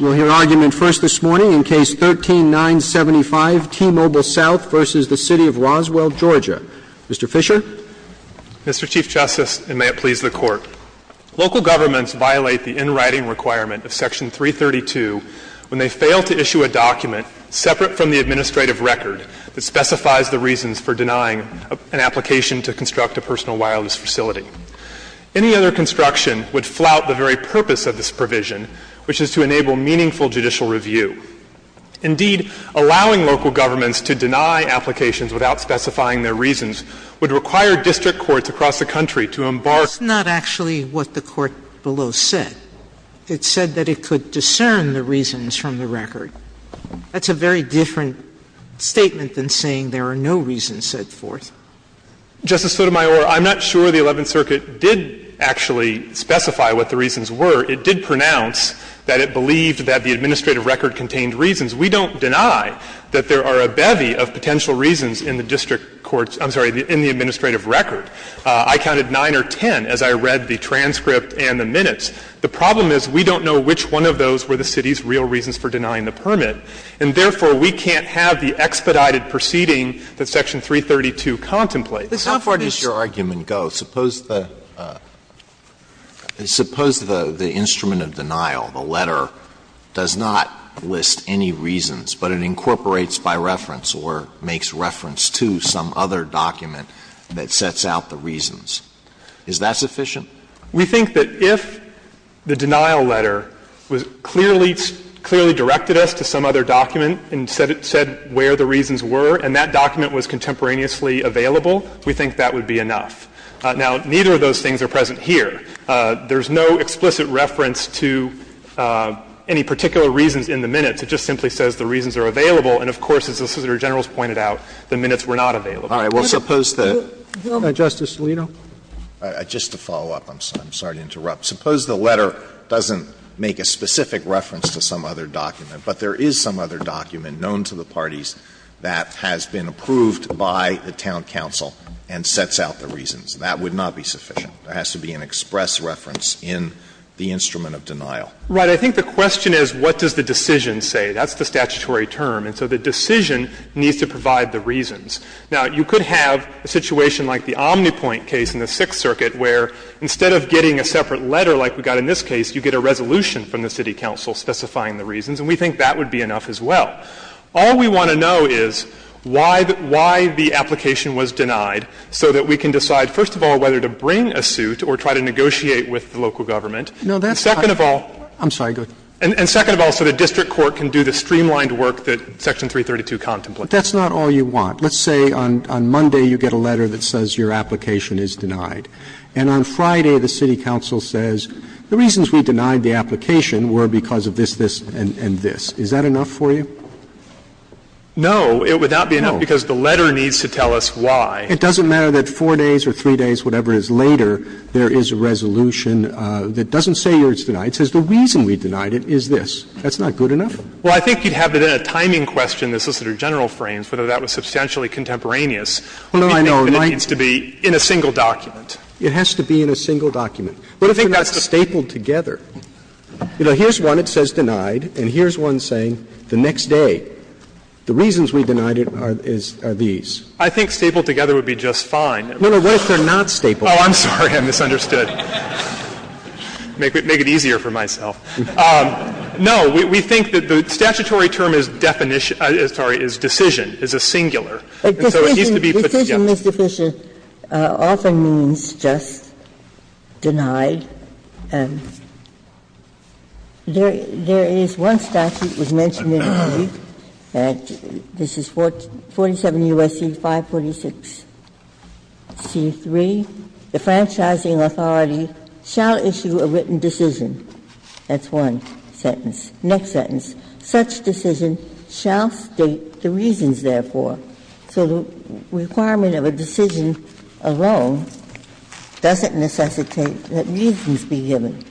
We'll hear argument first this morning in Case 13-975, T-Mobile South v. the City of Roswell, Georgia. Mr. Fisher? Mr. Chief Justice, and may it please the Court, local governments violate the in-writing requirement of Section 332 when they fail to issue a document separate from the administrative record that specifies the reasons for denying an application to construct a personal wireless facility. Any other construction would flout the very purpose of this provision, which is to enable meaningful judicial review. Indeed, allowing local governments to deny applications without specifying their reasons would require district courts across the country to embark on a process that would allow them to do so. That's not actually what the Court below said. It said that it could discern the reasons from the record. That's a very different statement than saying there are no reasons set forth. Justice Sotomayor, I'm not sure the Eleventh Circuit did actually specify what the reasons were. It did pronounce that it believed that the administrative record contained reasons. We don't deny that there are a bevy of potential reasons in the district courts — I'm sorry, in the administrative record. I counted 9 or 10 as I read the transcript and the minutes. The problem is we don't know which one of those were the City's real reasons for denying the permit. And therefore, we can't have the expedited proceeding that Section 332 contemplates. Alito, how far does your argument go? Suppose the instrument of denial, the letter, does not list any reasons, but it incorporates by reference or makes reference to some other document that sets out the reasons. Is that sufficient? We think that if the denial letter clearly directed us to some other document and said where the reasons were and that document was contemporaneously available, we think that would be enough. Now, neither of those things are present here. There's no explicit reference to any particular reasons in the minutes. It just simply says the reasons are available. And, of course, as the Solicitor General has pointed out, the minutes were not available. All right. Well, suppose the — Justice Alito? Just to follow up, I'm sorry to interrupt. Suppose the letter doesn't make a specific reference to some other document, but there is some other document known to the parties that has been approved by the town council and sets out the reasons. That would not be sufficient. There has to be an express reference in the instrument of denial. Right. I think the question is what does the decision say. That's the statutory term. And so the decision needs to provide the reasons. Now, you could have a situation like the Omnipoint case in the Sixth Circuit where instead of getting a separate letter like we got in this case, you get a resolution from the city council specifying the reasons, and we think that would be enough as well. All we want to know is why the application was denied so that we can decide, first of all, whether to bring a suit or try to negotiate with the local government. And second of all — I'm sorry. Go ahead. And second of all, so the district court can do the streamlined work that Section 332 contemplates. But that's not all you want. Let's say on Monday you get a letter that says your application is denied. And on Friday the city council says the reasons we denied the application were because of this, and this. Is that enough for you? No. It would not be enough because the letter needs to tell us why. It doesn't matter that four days or three days, whatever it is later, there is a resolution that doesn't say yours is denied. It says the reason we denied it is this. That's not good enough. Well, I think you'd have it in a timing question, the Solicitor General frames, whether that was substantially contemporaneous. Well, no, I know. You think that it needs to be in a single document. It has to be in a single document. But if it's not stapled together, you know, here's one. It says denied. And here's one saying the next day, the reasons we denied it are these. I think stapled together would be just fine. No, no. What if they're not stapled? Oh, I'm sorry. I misunderstood. Make it easier for myself. No. We think that the statutory term is definition – sorry, is decision, is a singular. And so it needs to be put together. Ginsburg's answer often means just denied. There is one statute that was mentioned in the brief, and this is 47 U.S.C. 546c3. The franchising authority shall issue a written decision. That's one sentence. Next sentence. Such decision shall state the reasons, therefore. So the requirement of a decision alone doesn't necessitate that reasons be given.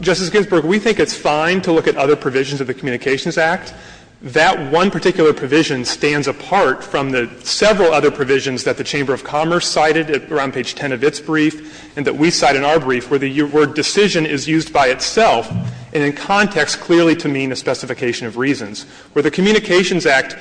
Justice Ginsburg, we think it's fine to look at other provisions of the Communications Act. That one particular provision stands apart from the several other provisions that the Chamber of Commerce cited around page 10 of its brief and that we cite in our brief, where the word decision is used by itself and in context clearly to mean a specification of reasons. Where the Communications Act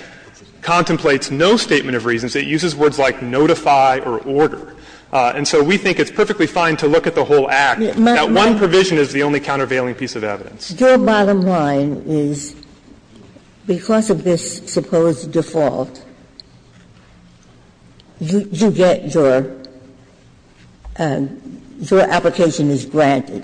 contemplates no statement of reasons, it uses words like notify or order. And so we think it's perfectly fine to look at the whole Act. That one provision is the only countervailing piece of evidence. Your bottom line is, because of this supposed default, you get your – your application is granted.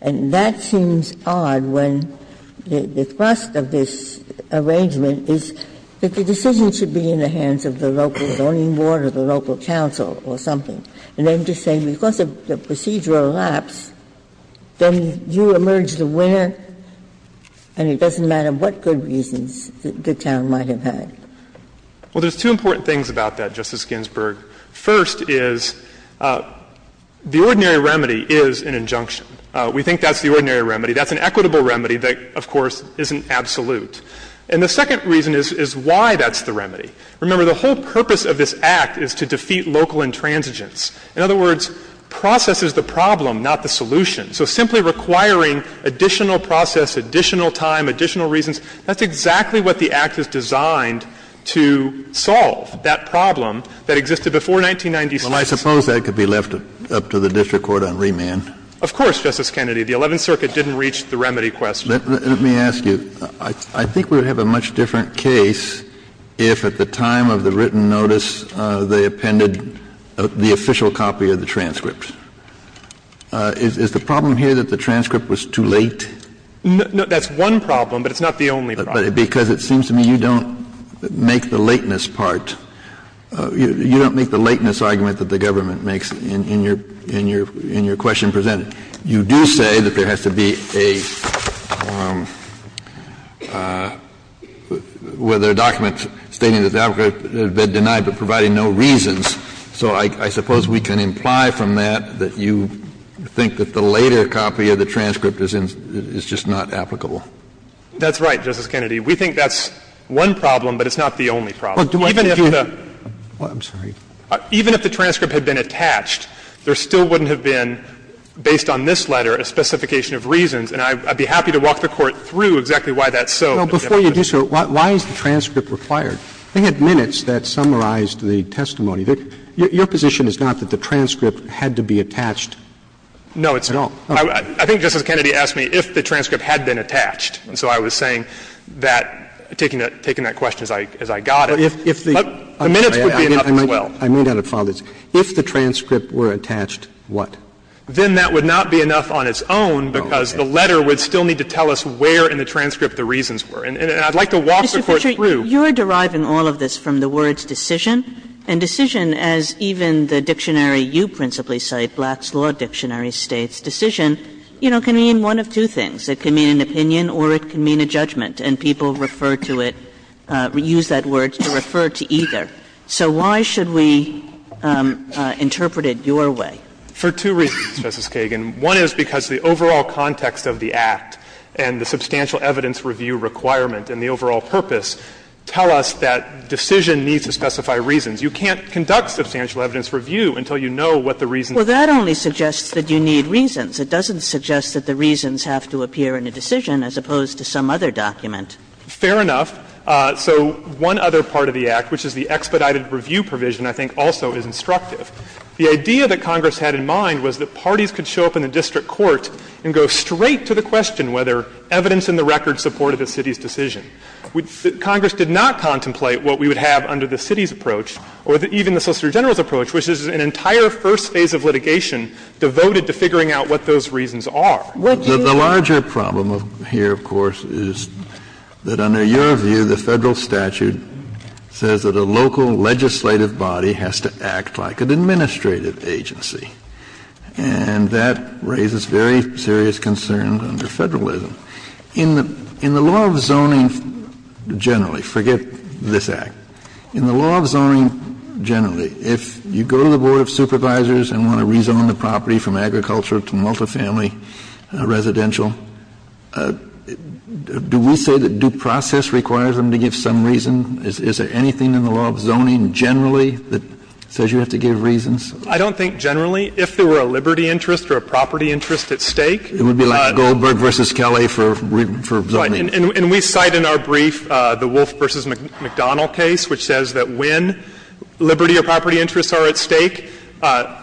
And that seems odd when the thrust of this arrangement is that the decision should be in the hands of the local zoning board or the local council or something. And then to say because of the procedural lapse, then you emerge the winner and it doesn't matter what good reasons the town might have had. Well, there's two important things about that, Justice Ginsburg. First is the ordinary remedy is an injunction. We think that's the ordinary remedy. That's an equitable remedy that, of course, isn't absolute. And the second reason is why that's the remedy. Remember, the whole purpose of this Act is to defeat local intransigence. In other words, process is the problem, not the solution. So simply requiring additional process, additional time, additional reasons, that's exactly what the Act is designed to solve, that problem that existed before 1996. Well, I suppose that could be left up to the district court on remand. Of course, Justice Kennedy. The Eleventh Circuit didn't reach the remedy question. Let me ask you, I think we would have a much different case if at the time of the written notice they appended the official copy of the transcript. Is the problem here that the transcript was too late? No, that's one problem, but it's not the only problem. Because it seems to me you don't make the lateness part. You don't make the lateness argument that the government makes in your question presented. You do say that there has to be a document stating that the applicant has been denied, but providing no reasons. So I suppose we can imply from that that you think that the later copy of the transcript is just not applicable. That's right, Justice Kennedy. We think that's one problem, but it's not the only problem. Even if the transcript had been attached, there still wouldn't have been, based on this letter, a specification of reasons. And I'd be happy to walk the Court through exactly why that's so. But before you do so, why is the transcript required? We had minutes that summarized the testimony. Your position is not that the transcript had to be attached at all? No. I think Justice Kennedy asked me if the transcript had been attached. And so I was saying that, taking that question as I got it, the minutes would be enough as well. I may not have followed this. If the transcript were attached, what? Then that would not be enough on its own, because the letter would still need to tell us where in the transcript the reasons were. And I'd like to walk the Court through. Mr. Fisher, you're deriving all of this from the words ''decision''. And ''decision'', as even the dictionary you principally cite, Black's Law Dictionary states, ''decision'', you know, can mean one of two things. It can mean an opinion or it can mean a judgment. And people refer to it, use that word to refer to either. So why should we interpret it your way? For two reasons, Justice Kagan. One is because the overall context of the Act and the substantial evidence review requirement and the overall purpose tell us that ''decision'' needs to specify reasons. You can't conduct substantial evidence review until you know what the reasons are. Well, that only suggests that you need reasons. It doesn't suggest that the reasons have to appear in a decision as opposed to some other document. Fair enough. So one other part of the Act, which is the expedited review provision, I think also is instructive. The idea that Congress had in mind was that parties could show up in the district court and go straight to the question whether evidence in the record supported the city's decision. Congress did not contemplate what we would have under the city's approach or even the Solicitor General's approach, which is an entire first phase of litigation devoted to figuring out what those reasons are. The larger problem here, of course, is that under your view, the Federal statute says that a local legislative body has to act like an administrative agency. And that raises very serious concerns under Federalism. In the law of zoning generally, forget this Act, in the law of zoning generally, if you go to the Board of Supervisors and want to rezone the property from agriculture to multifamily residential, do we say that due process requires them to give some reason? Is there anything in the law of zoning generally that says you have to give reasons? I don't think generally. If there were a liberty interest or a property interest at stake, but we cite in our brief the Wolfe v. McDonnell case, which says that when liberty or property interests are at stake,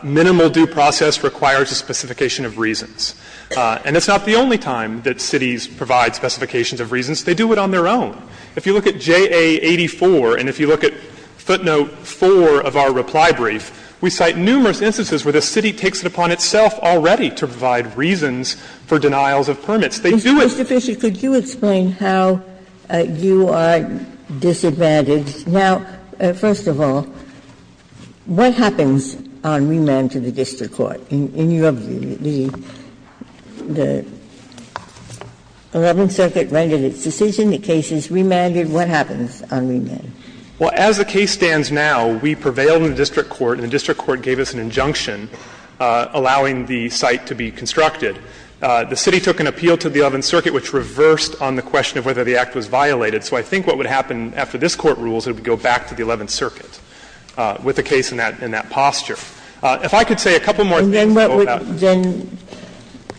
minimal due process requires a specification of reasons. And it's not the only time that cities provide specifications of reasons. They do it on their own. If you look at JA 84 and if you look at footnote 4 of our reply brief, we cite numerous instances where the city takes it upon itself already to provide reasons for denials They do it at the same time. Ginsburg. Mr. Fisher, could you explain how you are disadvantaged? Now, first of all, what happens on remand to the district court? In your view, the Eleventh Circuit rendered its decision, the case is remanded. What happens on remand? Fisher, Well, as the case stands now, we prevailed in the district court and the district court gave us an injunction allowing the site to be constructed. The city took an appeal to the Eleventh Circuit, which reversed on the question of whether the act was violated. So I think what would happen after this Court rules, it would go back to the Eleventh Circuit with the case in that posture. If I could say a couple more things about that. Ginsburg. And then what would then,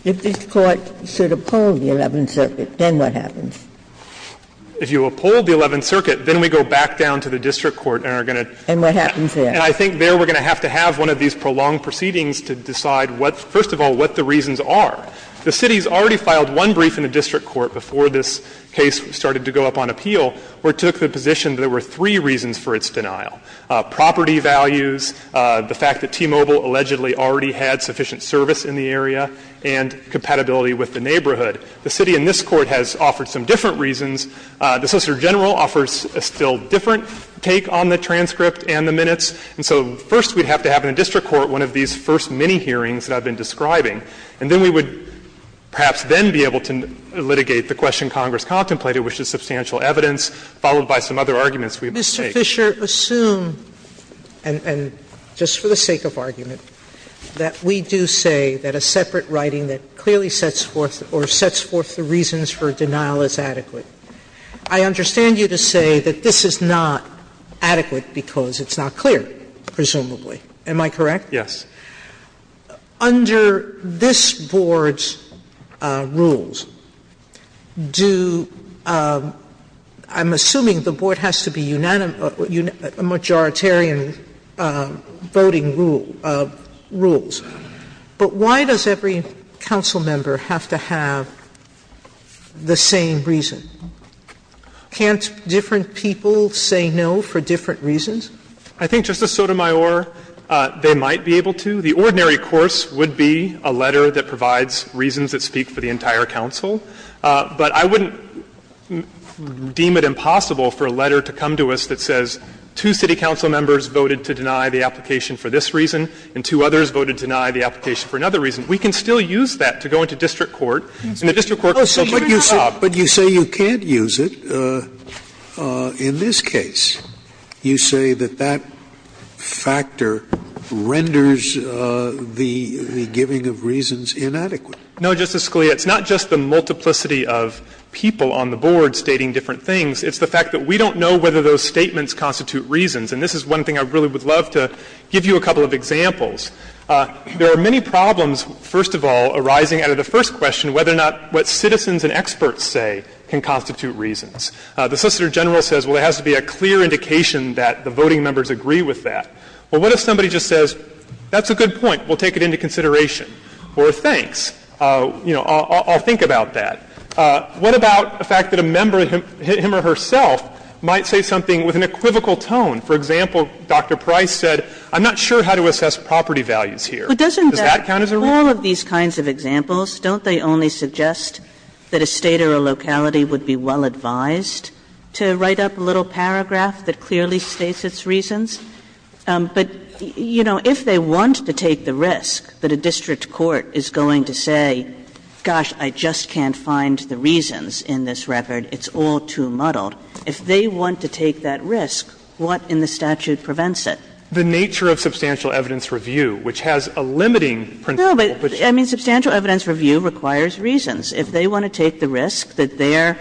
if this Court should uphold the Eleventh Circuit, then what happens? If you uphold the Eleventh Circuit, then we go back down to the district court and are going to. And what happens there? And I think there we are going to have to have one of these prolonged proceedings to decide what, first of all, what the reasons are. The city has already filed one brief in the district court before this case started to go up on appeal, where it took the position that there were three reasons for its denial, property values, the fact that T-Mobile allegedly already had sufficient service in the area, and compatibility with the neighborhood. The city in this Court has offered some different reasons. The Solicitor General offers a still different take on the transcript and the minutes. And so first we'd have to have in a district court one of these first mini-hearings that I've been describing. And then we would perhaps then be able to litigate the question Congress contemplated, which is substantial evidence, followed by some other arguments we've made. Sotomayor, just for the sake of argument, that we do say that a separate writing that clearly sets forth or sets forth the reasons for denial is adequate. I understand you to say that this is not adequate because it's not clear, presumably. Am I correct? Yes. Under this Board's rules, do – I'm assuming the Board has to be a majoritarian voting rule – rules, but why does every council member have to have the same reason? Can't different people say no for different reasons? I think, Justice Sotomayor, they might be able to. The ordinary course would be a letter that provides reasons that speak for the entire council. But I wouldn't deem it impossible for a letter to come to us that says two city council members voted to deny the application for this reason and two others voted to deny the application for another reason. We can still use that to go into district court, and the district court can do a different job. Scalia, but you say you can't use it in this case. You say that that factor renders the giving of reasons inadequate. No, Justice Scalia, it's not just the multiplicity of people on the Board stating different things. It's the fact that we don't know whether those statements constitute reasons. And this is one thing I really would love to give you a couple of examples. There are many problems, first of all, arising out of the first question, whether or not what citizens and experts say can constitute reasons. The Solicitor General says, well, there has to be a clear indication that the voting members agree with that. Well, what if somebody just says, that's a good point, we'll take it into consideration, or thanks, you know, I'll think about that. What about the fact that a member, him or herself, might say something with an equivocal tone? For example, Dr. Price said, I'm not sure how to assess property values here. Does that count as a reason? All of these kinds of examples, don't they only suggest that a State or a locality would be well advised to write up a little paragraph that clearly states its reasons? But, you know, if they want to take the risk that a district court is going to say, gosh, I just can't find the reasons in this record, it's all too muddled, if they want to take that risk, what in the statute prevents it? The nature of substantial evidence review, which has a limiting principle. No, but, I mean, substantial evidence review requires reasons. If they want to take the risk that their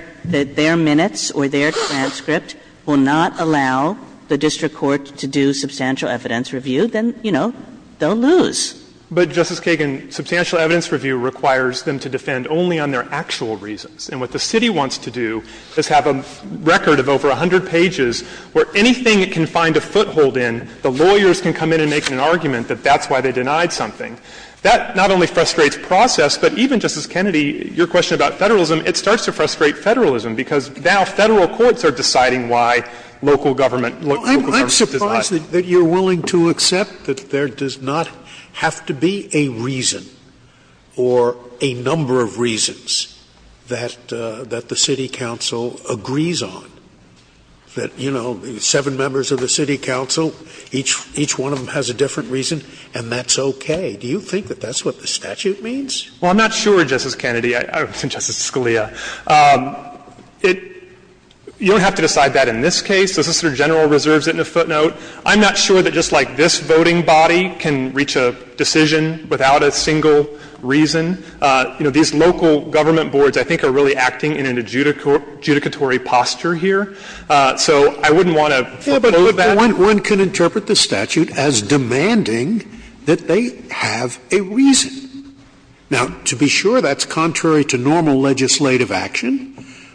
minutes or their transcript will not allow the district court to do substantial evidence review, then, you know, they'll lose. But, Justice Kagan, substantial evidence review requires them to defend only on their actual reasons. And what the City wants to do is have a record of over 100 pages where anything it can find a foothold in, the lawyers can come in and make an argument that that's why they denied something. That not only frustrates process, but even, Justice Kennedy, your question about federalism, it starts to frustrate federalism, because now Federal courts are deciding why local government does that. Scalia, I'm surprised that you're willing to accept that there does not have to be a reason or a number of reasons that the city council agrees on, that, you know, seven members of the city council, each one of them has a different reason, and that's okay. Do you think that that's what the statute means? Well, I'm not sure, Justice Kennedy, and Justice Scalia. It — you don't have to decide that in this case. The Solicitor General reserves it in a footnote. I'm not sure that just like this voting body can reach a decision without a single reason. You know, these local government boards, I think, are really acting in an adjudicatory posture here. So I wouldn't want to foreclose that. One can interpret the statute as demanding that they have a reason. Now, to be sure, that's contrary to normal legislative action.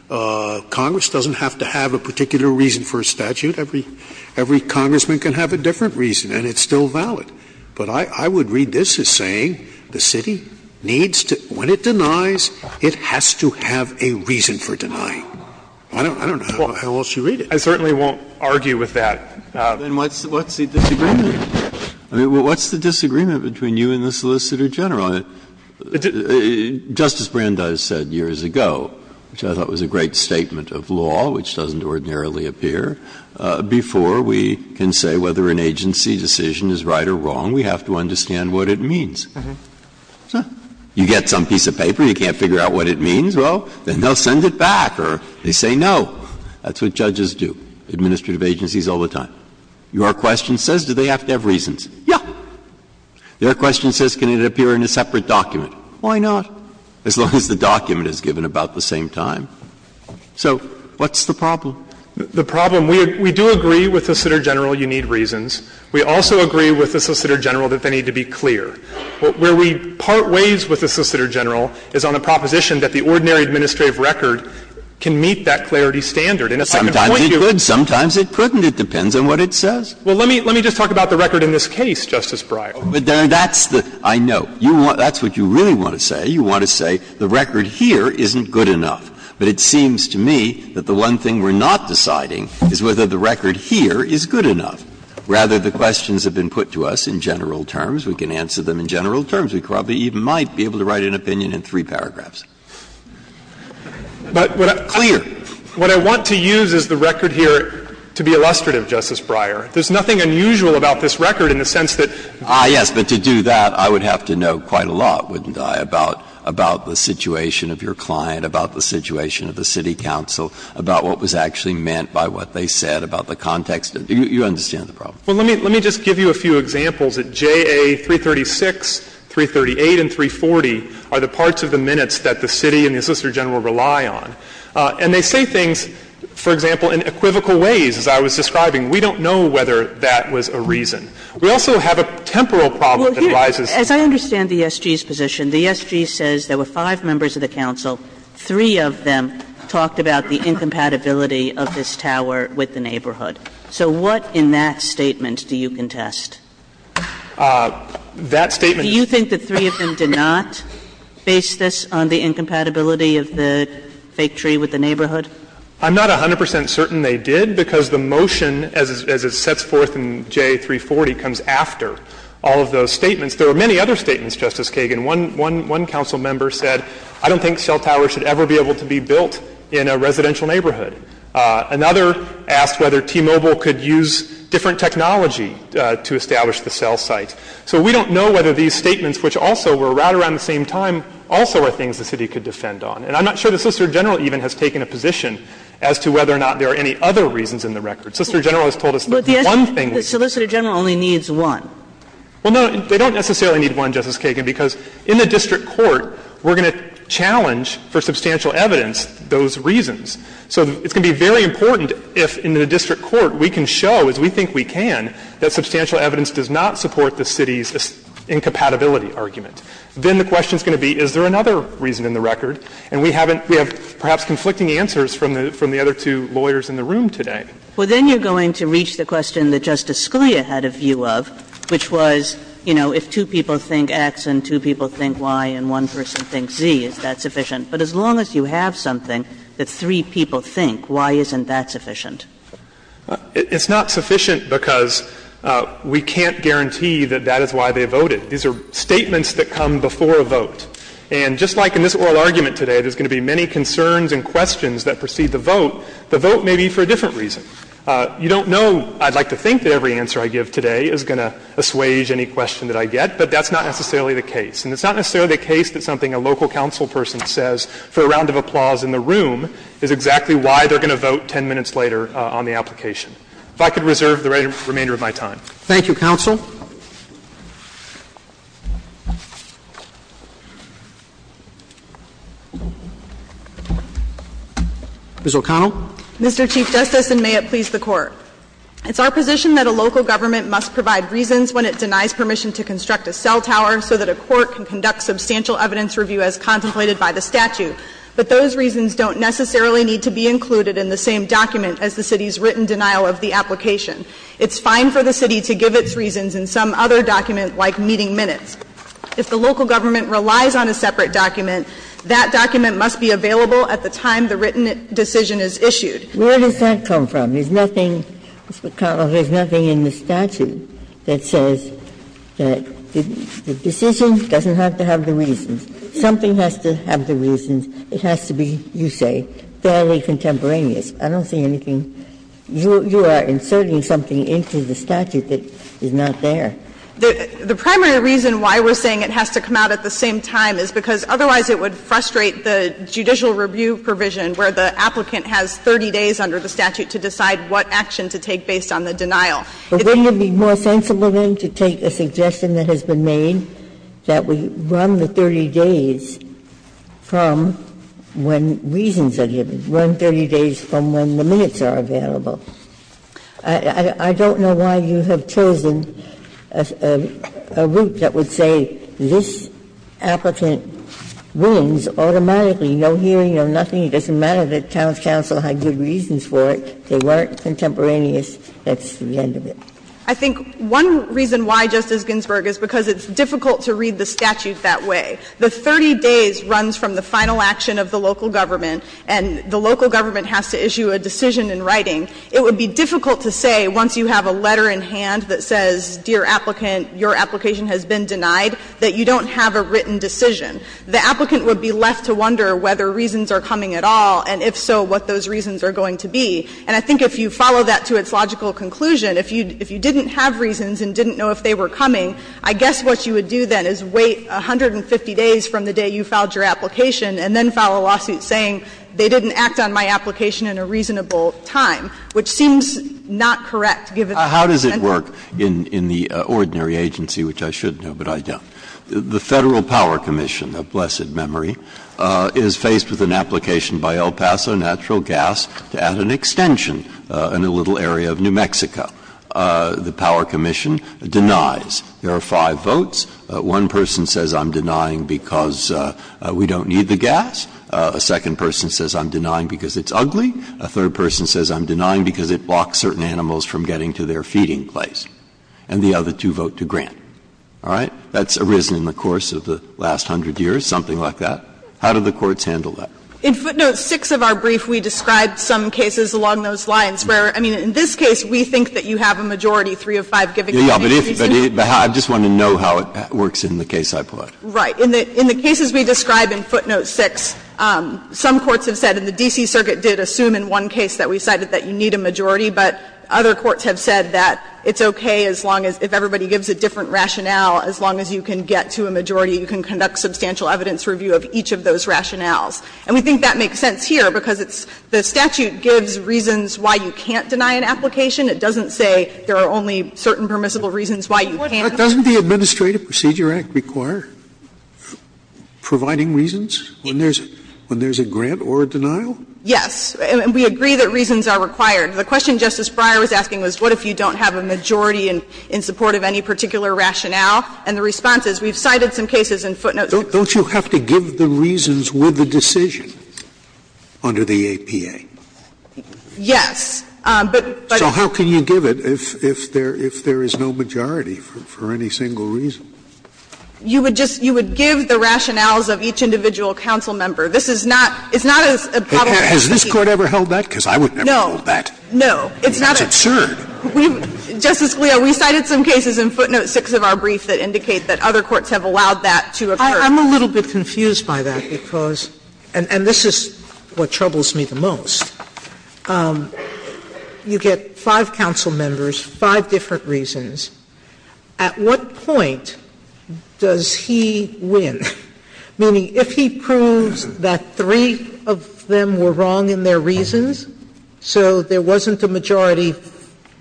Congress doesn't have to have a particular reason for a statute. Every congressman can have a different reason, and it's still valid. But I would read this as saying the city needs to — when it denies, it has to have a reason for denying. I don't know how else you read it. I certainly won't argue with that. Breyer. Then what's the disagreement? I mean, what's the disagreement between you and the Solicitor General? Justice Brandeis said years ago, which I thought was a great statement of law, which doesn't ordinarily appear, before we can say whether an agency decision is right or wrong, we have to understand what it means. You get some piece of paper, you can't figure out what it means, well, then they'll send it back, or they say no. That's what judges do, administrative agencies, all the time. Your question says, do they have to have reasons? Yeah. Their question says, can it appear in a separate document? Why not? As long as the document is given about the same time. So what's the problem? The problem — we do agree with the Solicitor General you need reasons. We also agree with the Solicitor General that they need to be clear. Where we part ways with the Solicitor General is on a proposition that the ordinary administrative record can meet that clarity standard. And if I could point you to the second point, Justice Breyer, I think that's a good point. Breyer, sometimes it could, sometimes it couldn't. It depends on what it says. Well, let me just talk about the record in this case, Justice Breyer. But that's the — I know. That's what you really want to say. You want to say the record here isn't good enough. But it seems to me that the one thing we're not deciding is whether the record here is good enough. Rather, the questions have been put to us in general terms. We can answer them in general terms. We probably even might be able to write an opinion in three paragraphs. But what I want to use is the record here to be illustrative, Justice Breyer. There's nothing unusual about this record in the sense that — Ah, yes. But to do that, I would have to know quite a lot, wouldn't I, about the situation of your client, about the situation of the city council, about what was actually meant by what they said, about the context. You understand the problem. Well, let me just give you a few examples. The first one is that JA-336, 338, and 340 are the parts of the minutes that the city and the assistant general rely on. And they say things, for example, in equivocal ways, as I was describing. We don't know whether that was a reason. We also have a temporal problem that arises. As I understand the SG's position, the SG says there were five members of the council, three of them talked about the incompatibility of this tower with the neighborhood. So what in that statement do you contest? That statement — Do you think the three of them did not base this on the incompatibility of the fake tree with the neighborhood? I'm not 100 percent certain they did, because the motion as it sets forth in JA-340 comes after all of those statements. There were many other statements, Justice Kagan. One council member said, I don't think Shell Tower should ever be able to be built in a residential neighborhood. Another asked whether T-Mobile could use different technology to establish the cell site. So we don't know whether these statements, which also were right around the same time, also are things the city could defend on. And I'm not sure the Solicitor General even has taken a position as to whether or not there are any other reasons in the record. The Solicitor General has told us that one thing — But the Solicitor General only needs one. Well, no, they don't necessarily need one, Justice Kagan, because in the district court we're going to challenge for substantial evidence those reasons. So it's going to be very important if in the district court we can show, as we think we can, that substantial evidence does not support the city's incompatibility argument. Then the question is going to be, is there another reason in the record? And we haven't — we have perhaps conflicting answers from the other two lawyers in the room today. Well, then you're going to reach the question that Justice Scalia had a view of, which was, you know, if two people think X and two people think Y and one person thinks Z, is that sufficient? But as long as you have something that three people think, why isn't that sufficient? It's not sufficient because we can't guarantee that that is why they voted. These are statements that come before a vote. And just like in this oral argument today, there's going to be many concerns and questions that precede the vote. The vote may be for a different reason. You don't know, I'd like to think, that every answer I give today is going to assuage any question that I get, but that's not necessarily the case. And it's not necessarily the case that something a local council person says for a round of applause in the room is exactly why they're going to vote 10 minutes later on the application. If I could reserve the remainder of my time. Roberts. Thank you, counsel. Ms. O'Connell. Mr. Chief Justice, and may it please the Court. It's our position that a local government must provide reasons when it denies permission to construct a cell tower so that a court can conduct substantial evidence review as contemplated by the statute, but those reasons don't necessarily need to be included in the same document as the city's written denial of the application. It's fine for the city to give its reasons in some other document like meeting minutes. If the local government relies on a separate document, that document must be available at the time the written decision is issued. Where does that come from? There's nothing, Ms. O'Connell, there's nothing in the statute that says that the decision doesn't have to have the reasons. Something has to have the reasons. It has to be, you say, fairly contemporaneous. I don't see anything. You are inserting something into the statute that is not there. The primary reason why we're saying it has to come out at the same time is because otherwise it would frustrate the judicial review provision where the applicant has 30 days under the statute to decide what action to take based on the denial. Ginsburg-Miller But wouldn't it be more sensible, then, to take a suggestion that has been made that we run the 30 days from when reasons are given, run 30 days from when the minutes are available? I don't know why you have chosen a route that would say this applicant wins automatically, no hearing, no nothing. It doesn't matter that town's council had good reasons for it, they weren't contemporaneous, that's the end of it. O'Connell I think one reason why, Justice Ginsburg, is because it's difficult to read the statute that way. The 30 days runs from the final action of the local government, and the local government has to issue a decision in writing. It would be difficult to say, once you have a letter in hand that says, dear applicant, your application has been denied, that you don't have a written decision. The applicant would be left to wonder whether reasons are coming at all, and if so, what those reasons are going to be. And I think if you follow that to its logical conclusion, if you didn't have reasons and didn't know if they were coming, I guess what you would do, then, is wait 150 days from the day you filed your application, and then file a lawsuit saying they didn't act on my application in a reasonable time, which seems not correct, given the circumstances. Breyer How does it work in the ordinary agency, which I should know, but I don't? The Federal Power Commission, a blessed memory, is faced with an application by El Paso Natural Gas to add an extension in a little area of New Mexico. The Power Commission denies. There are five votes. One person says, I'm denying because we don't need the gas. A second person says, I'm denying because it's ugly. A third person says, I'm denying because it blocks certain animals from getting And the other two vote to grant. All right? That's arisen in the course of the last hundred years, something like that. How do the courts handle that? In footnote 6 of our brief, we described some cases along those lines where, I mean, in this case, we think that you have a majority, three of five giving you a majority. But I just want to know how it works in the case I plot. Right. In the cases we describe in footnote 6, some courts have said, and the D.C. Circuit did assume in one case that we cited that you need a majority, but other courts have said that it's okay as long as, if everybody gives a different rationale, as long as you can get to a majority, you can conduct substantial evidence review of each of those rationales. And we think that makes sense here, because it's the statute gives reasons why you can't deny an application. It doesn't say there are only certain permissible reasons why you can't. Scalia, doesn't the Administrative Procedure Act require providing reasons when there's a grant or a denial? Yes. And we agree that reasons are required. The question Justice Breyer was asking was, what if you don't have a majority in support of any particular rationale? And the response is, we've cited some cases in footnote 6. Don't you have to give the reasons with the decision under the APA? Yes, but, but. So how can you give it if there is no majority for any single reason? You would just, you would give the rationales of each individual council member. This is not, it's not as a problem. Has this Court ever held that? Because I would never hold that. No, no. It's not absurd. We've, Justice Scalia, we cited some cases in footnote 6 of our brief that indicate that other courts have allowed that to occur. I'm a little bit confused by that because, and this is what troubles me the most, you get five council members, five different reasons. At what point does he win? Meaning, if he proves that three of them were wrong in their reasons, so there wasn't a majority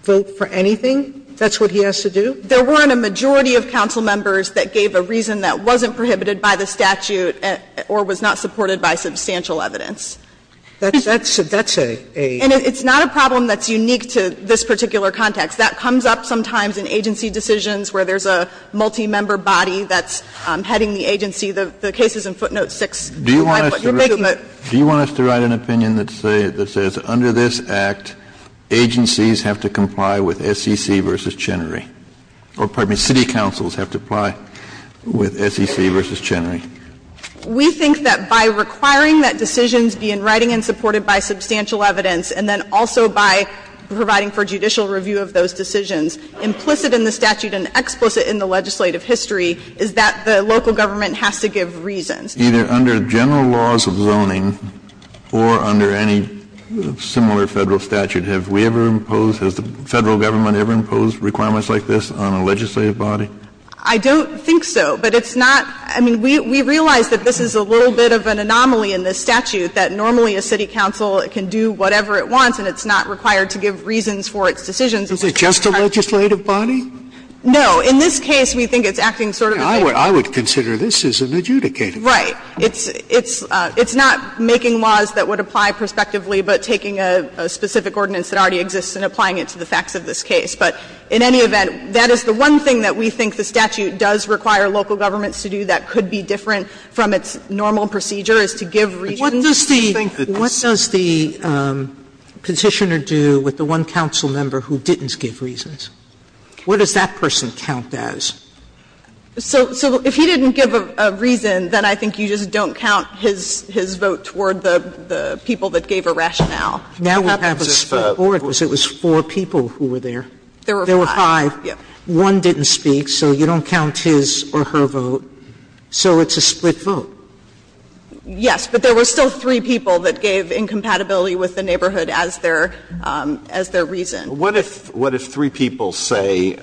vote for anything, that's what he has to do? There weren't a majority of council members that gave a reason that wasn't prohibited by the statute or was not supported by substantial evidence. That's a, that's a, a. And it's not a problem that's unique to this particular context. That comes up sometimes in agency decisions where there's a multi-member body that's heading the agency. The case is in footnote 6. Agencies have to comply with SEC v. Chenery. Or, pardon me, city councils have to comply with SEC v. Chenery. We think that by requiring that decisions be in writing and supported by substantial evidence and then also by providing for judicial review of those decisions, implicit in the statute and explicit in the legislative history is that the local government has to give reasons. Either under general laws of zoning or under any similar Federal statute, have we ever imposed, has the Federal Government ever imposed requirements like this on a legislative body? I don't think so. But it's not, I mean, we, we realize that this is a little bit of an anomaly in this statute, that normally a city council can do whatever it wants and it's not required to give reasons for its decisions. Is it just a legislative body? No. In this case, we think it's acting sort of as a. I would, I would consider this as an adjudicative body. Right. It's, it's, it's not making laws that would apply prospectively, but taking a, a specific ordinance that already exists and applying it to the facts of this case. But in any event, that is the one thing that we think the statute does require local governments to do that could be different from its normal procedure, is to give reasons. Sotomayor, what does the, what does the Petitioner do with the one council member who didn't give reasons? What does that person count as? So, so if he didn't give a reason, then I think you just don't count his, his vote toward the, the people that gave a rationale. Now we have a split board because it was four people who were there. There were five. There were five. Yes. One didn't speak, so you don't count his or her vote. So it's a split vote. Yes, but there were still three people that gave incompatibility with the neighborhood as their, as their reason. Alito, what if, what if three people say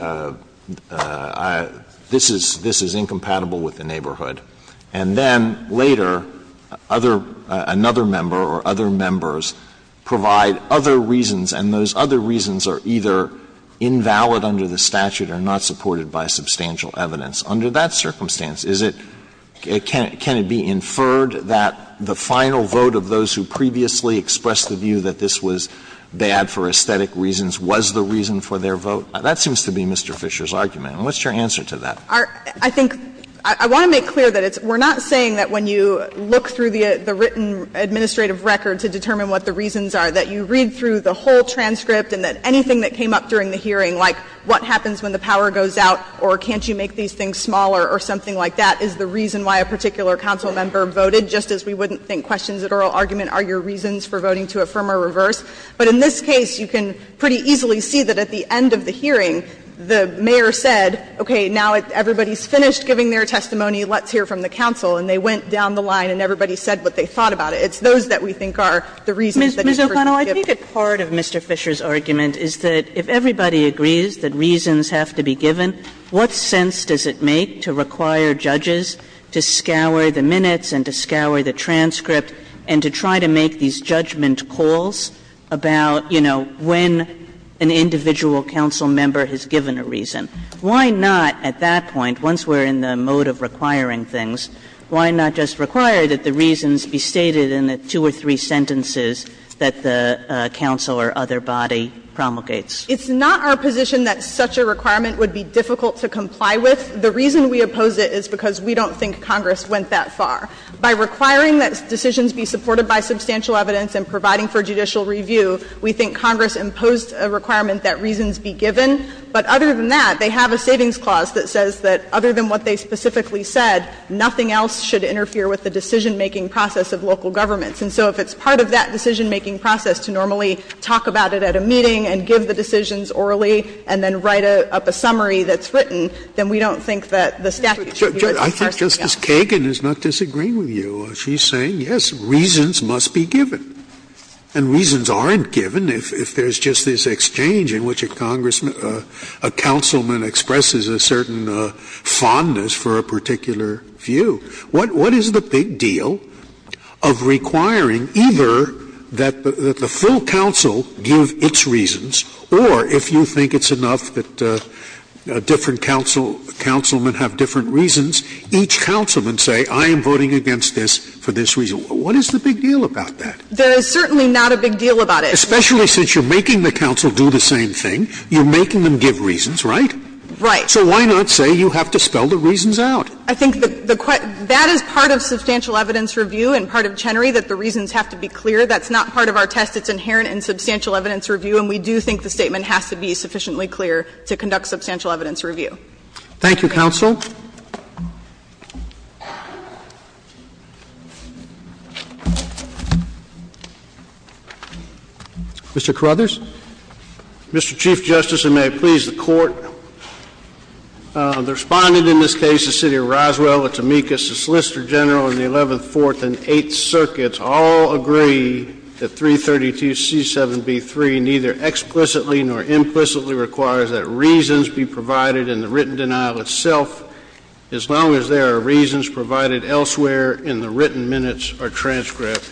this is, this is incompatible with the neighborhood, and then later other, another member or other members provide other reasons, and those other reasons are either invalid under the statute or not supported by substantial evidence? Under that circumstance, is it, can it be inferred that the final vote of those who previously expressed the view that this was bad for aesthetic reasons was the reason for their vote? That seems to be Mr. Fisher's argument, and what's your answer to that? Our, I think, I want to make clear that it's, we're not saying that when you look through the, the written administrative record to determine what the reasons are, that you read through the whole transcript and that anything that came up during the hearing, like what happens when the power goes out, or can't you make these things smaller, or something like that, is the reason why a particular council member voted, just as we wouldn't think questions at oral argument are your reasons for voting to affirm or reverse. But in this case, you can pretty easily see that at the end of the hearing, the mayor said, okay, now everybody's finished giving their testimony, let's hear from the council, and they went down the line and everybody said what they thought about it. It's those that we think are the reasons that they first give. Ms. O'Connell, I think a part of Mr. Fisher's argument is that if everybody agrees that reasons have to be given, what sense does it make to require judges to scour the minutes and to scour the transcript and to try to make these judgment calls about, you know, when an individual council member has given a reason? Why not, at that point, once we're in the mode of requiring things, why not just require that the reasons be stated in the two or three sentences that the council or other body promulgates? It's not our position that such a requirement would be difficult to comply with. The reason we oppose it is because we don't think Congress went that far. By requiring that decisions be supported by substantial evidence and providing for judicial review, we think Congress imposed a requirement that reasons be given. But other than that, they have a savings clause that says that other than what they specifically said, nothing else should interfere with the decisionmaking process of local governments. And so if it's part of that decisionmaking process to normally talk about it at a meeting and give the decisions orally and then write up a summary that's written, then we don't think that the statute should be what's required to do that. Scalia. Scalia. I think Justice Kagan is not disagreeing with you. She's saying, yes, reasons must be given. And reasons aren't given if there's just this exchange in which a congressman or a councilman expresses a certain fondness for a particular view. What is the big deal of requiring either that the full council give its reasons or, if you think it's enough that different councilmen have different reasons, each councilman say, I am voting against this for this reason. What is the big deal about that? There is certainly not a big deal about it. Especially since you're making the council do the same thing. You're making them give reasons, right? Right. So why not say you have to spell the reasons out? I think the question – that is part of substantial evidence review and part of Chenery, that the reasons have to be clear. That's not part of our test. It's inherent in substantial evidence review, and we do think the statement has to be sufficiently clear to conduct substantial evidence review. Thank you, counsel. Mr. Carruthers. Mr. Chief Justice, and may it please the Court, the Respondent in this case, the City Attorney, Mr. Roswell, the Tamekas, the Solicitor General, and the 11th, 4th, and 8th Circuits all agree that 332C7B3 neither explicitly nor implicitly requires that reasons be provided in the written denial itself as long as there are reasons provided elsewhere in the written minutes or transcript.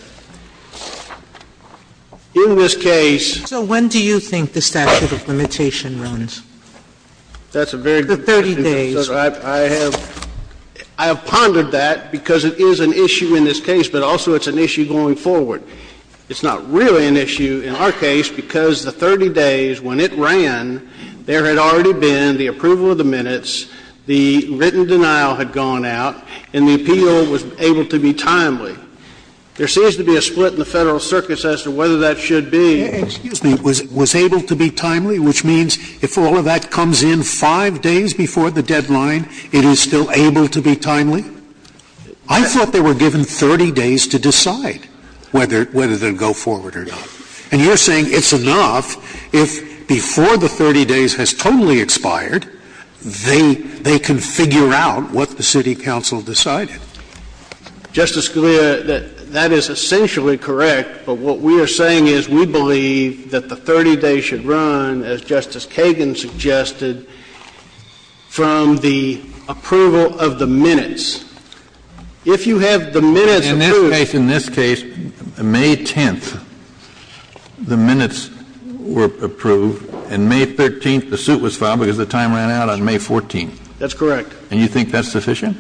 In this case – So when do you think the statute of limitation runs? That's a very good question. For 30 days. I have pondered that because it is an issue in this case, but also it's an issue going forward. It's not really an issue in our case because the 30 days when it ran, there had already been the approval of the minutes, the written denial had gone out, and the appeal was able to be timely. There seems to be a split in the Federal circuits as to whether that should be. Excuse me. Was able to be timely, which means if all of that comes in 5 days before the deadline it is still able to be timely? I thought they were given 30 days to decide whether they would go forward or not. And you're saying it's enough if before the 30 days has totally expired, they can figure out what the city council decided. Justice Scalia, that is essentially correct, but what we are saying is we believe that the 30 days should run, as Justice Kagan suggested, from the approval of the minutes. If you have the minutes approved. In this case, May 10th, the minutes were approved, and May 13th the suit was filed because the time ran out on May 14th. That's correct. And you think that's sufficient?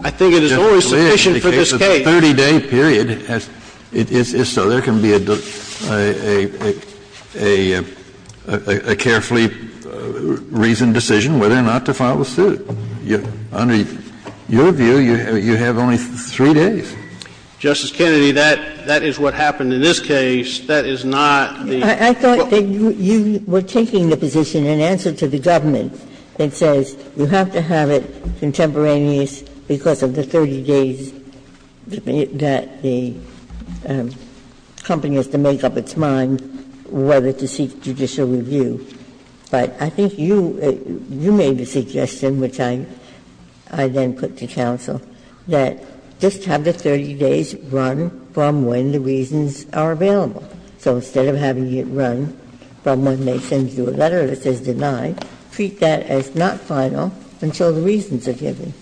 I think it is always sufficient for this case. The 30-day period is so. There can be a carefully reasoned decision whether or not to file a suit. Under your view, you have only 3 days. Justice Kennedy, that is what happened in this case. That is not the rule. I thought that you were taking the position in answer to the government that says you have to have it contemporaneous because of the 30 days that the company has to make up its mind whether to seek judicial review. But I think you made the suggestion, which I then put to counsel, that just have the 30 days run from when the reasons are available. So instead of having it run from when they send you a letter that says denied, treat that as not final until the reasons are given.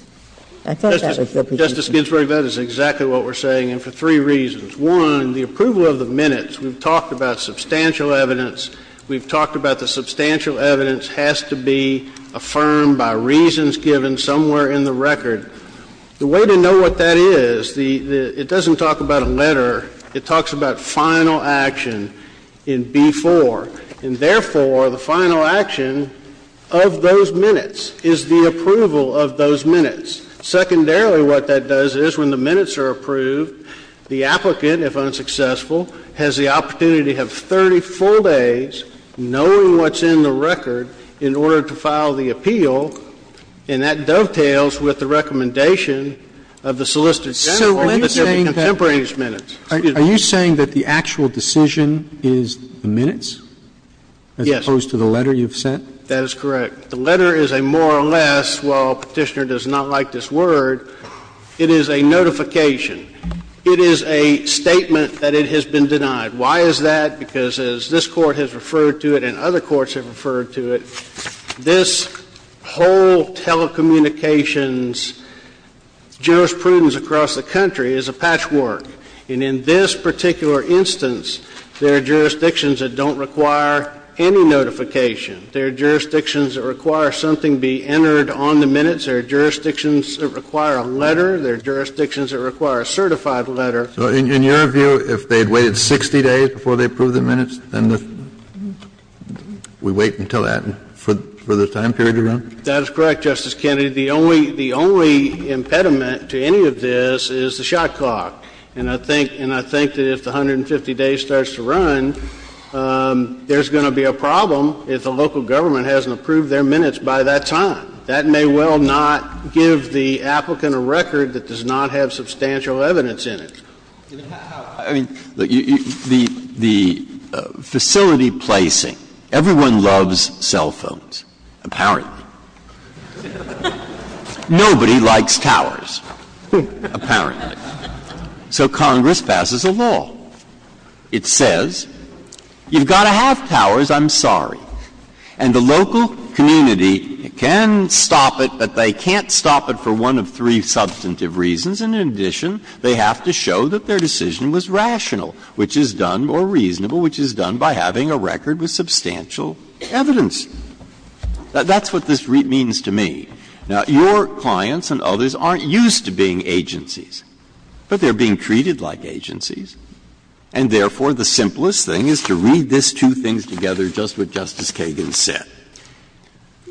I thought that was your position. Justice Ginsburg, that is exactly what we're saying, and for three reasons. One, the approval of the minutes, we've talked about substantial evidence. We've talked about the substantial evidence has to be affirmed by reasons given somewhere in the record. The way to know what that is, it doesn't talk about a letter. It talks about final action in B-4. And therefore, the final action of those minutes is the approval of those minutes. Secondarily, what that does is when the minutes are approved, the applicant, if unsuccessful, has the opportunity to have 30 full days knowing what's in the record in order to file the appeal, and that dovetails with the recommendation of the solicitor general that there be contemporaneous minutes. Are you saying that the actual decision is the minutes as opposed to the letter you've sent? That is correct. The letter is a more or less, well, Petitioner does not like this word, it is a notification. It is a statement that it has been denied. Why is that? Because as this Court has referred to it and other courts have referred to it, this whole telecommunications jurisprudence across the country is a patchwork. And in this particular instance, there are jurisdictions that don't require any notification. There are jurisdictions that require something be entered on the minutes. There are jurisdictions that require a letter. There are jurisdictions that require a certified letter. So in your view, if they had waited 60 days before they approved the minutes, then we wait until that for the time period to run? That is correct, Justice Kennedy. The only impediment to any of this is the shot clock. And I think that if the 150 days starts to run, there's going to be a problem if the local government hasn't approved their minutes by that time. That may well not give the applicant a record that does not have substantial evidence in it. I mean, the facility placing, everyone loves cell phones, apparently. Nobody likes towers, apparently. So Congress passes a law. It says, you've got to have towers, I'm sorry. And the local community can stop it, but they can't stop it for one of three substantive reasons, and in addition, they have to show that their decision was rational, which is done, or reasonable, which is done by having a record with substantial evidence. That's what this means to me. Now, your clients and others aren't used to being agencies. But they're being treated like agencies, and therefore, the simplest thing is to read this two things together, just what Justice Kagan said.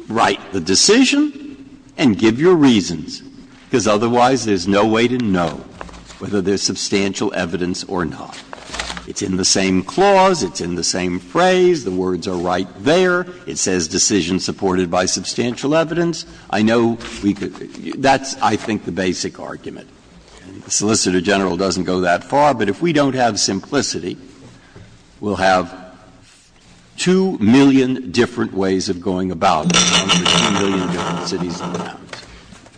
Write the decision and give your reasons, because otherwise there's no way to know whether there's substantial evidence or not. It's in the same clause, it's in the same phrase, the words are right there. It says decision supported by substantial evidence. I know we could be – that's, I think, the basic argument. The Solicitor General doesn't go that far, but if we don't have simplicity, we'll have 2 million different ways of going about it, 1.2 million different cities and towns.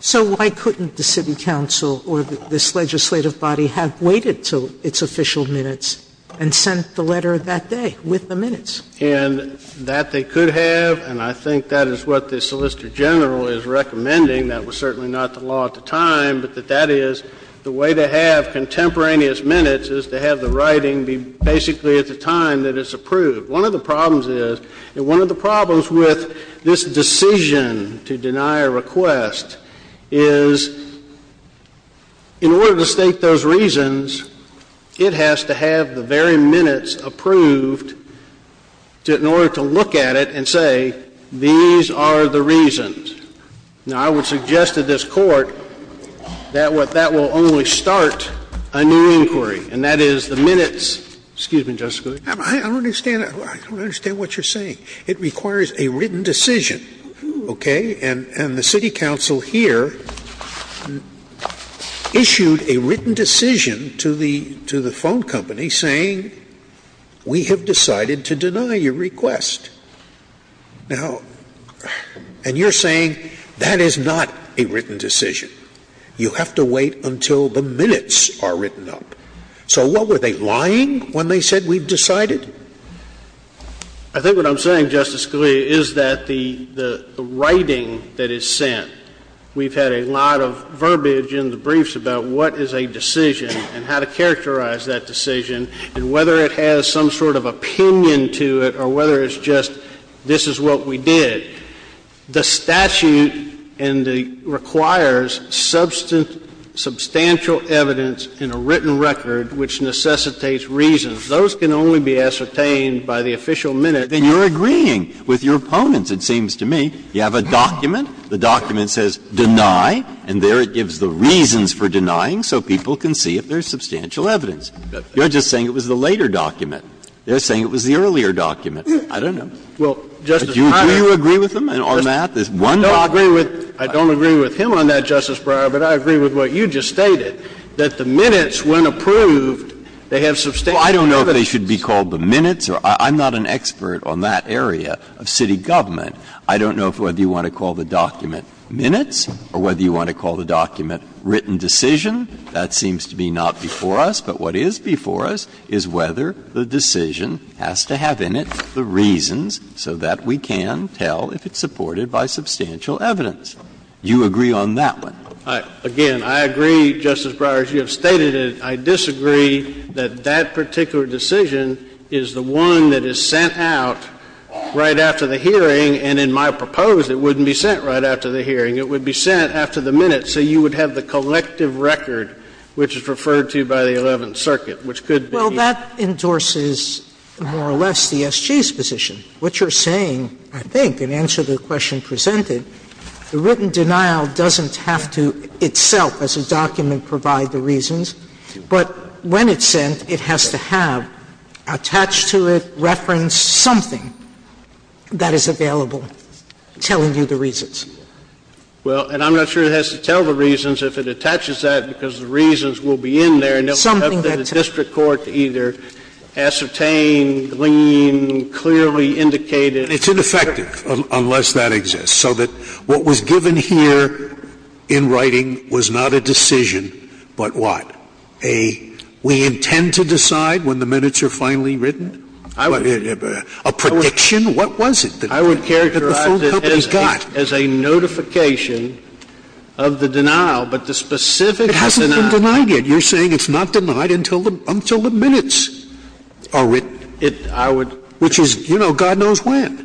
Sotomayor So why couldn't the city council or this legislative body have waited until its official minutes and sent the letter that day with the minutes? And that they could have, and I think that is what the Solicitor General is recommending. That was certainly not the law at the time, but that that is the way to have contemporaneous minutes is to have the writing be basically at the time that it's approved. One of the problems is, and one of the problems with this decision to deny a request is, in order to state those reasons, it has to have the very minutes approved in order to look at it and say, these are the reasons. Now, I would suggest to this Court that that will only start a new inquiry, and that is the minutes – excuse me, Justice Scalia. Scalia I don't understand what you're saying. It requires a written decision, okay? And the city council here issued a written decision to the phone company saying, we have decided to deny your request. Now, and you're saying that is not a written decision. You have to wait until the minutes are written up. So what, were they lying when they said we've decided? I think what I'm saying, Justice Scalia, is that the writing that is sent, we've had a lot of verbiage in the briefs about what is a decision and how to characterize that decision, and whether it has some sort of opinion to it or whether it's just this is what we did. The statute requires substantial evidence in a written record which necessitates reasons. Those can only be ascertained by the official minutes. Breyer Then you're agreeing with your opponents, it seems to me. You have a document. The document says, deny, and there it gives the reasons for denying so people can see if there's substantial evidence. You're just saying it was the later document. They're saying it was the earlier document. I don't know. Do you agree with them, in our math, this one document? I don't agree with him on that, Justice Breyer, but I agree with what you just stated, that the minutes, when approved, they have substantial evidence. Breyer I don't know if they should be called the minutes. I'm not an expert on that area of city government. I don't know whether you want to call the document minutes or whether you want to call the document written decision. That seems to be not before us, but what is before us is whether the decision has to have in it the reasons so that we can tell if it's supported by substantial evidence. You agree on that one? I, again, I agree, Justice Breyer, as you have stated it. I disagree that that particular decision is the one that is sent out right after the hearing, and in my proposal, it wouldn't be sent right after the hearing. It would be sent after the minutes, so you would have the collective record, which is referred to by the Eleventh Circuit, which could be the case. Sotomayor Well, that endorses, more or less, the SG's position. What you're saying, I think, in answer to the question presented, the written denial doesn't have to itself, as a document, provide the reasons, but when it's sent, it has to have attached to it, referenced, something that is available telling you the reasons. Well, and I'm not sure it has to tell the reasons if it attaches that, because the reasons will be in there, and it will have to the district court to either ascertain, glean, clearly indicate it. It's ineffective unless that exists, so that what was given here in writing was not a decision, but what? A, we intend to decide when the minutes are finally written? A prediction? What was it that the full company got? As a notification of the denial, but the specific denial. Scalia It hasn't been denied yet. You're saying it's not denied until the minutes are written. Which is, you know, God knows when.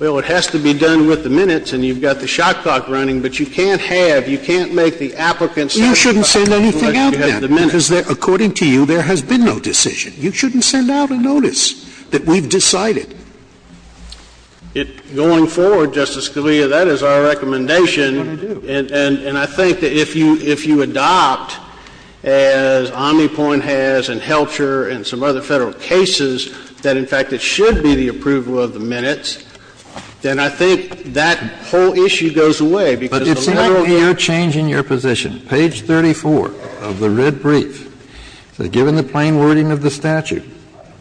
Well, it has to be done with the minutes, and you've got the shot clock running, but you can't have, you can't make the applicant satisfy unless you have the minutes. You shouldn't send anything out then, because according to you, there has been no decision. You shouldn't send out a notice that we've decided. It, going forward, Justice Scalia, that is our recommendation, and I think that if you adopt, as Omnipoint has and Helcher and some other Federal cases, that, in fact, it should be the approval of the minutes, then I think that whole issue goes away, because the letter will be there. Kennedy But it's not your change in your position. Page 34 of the writ brief, given the plain wording of the statute,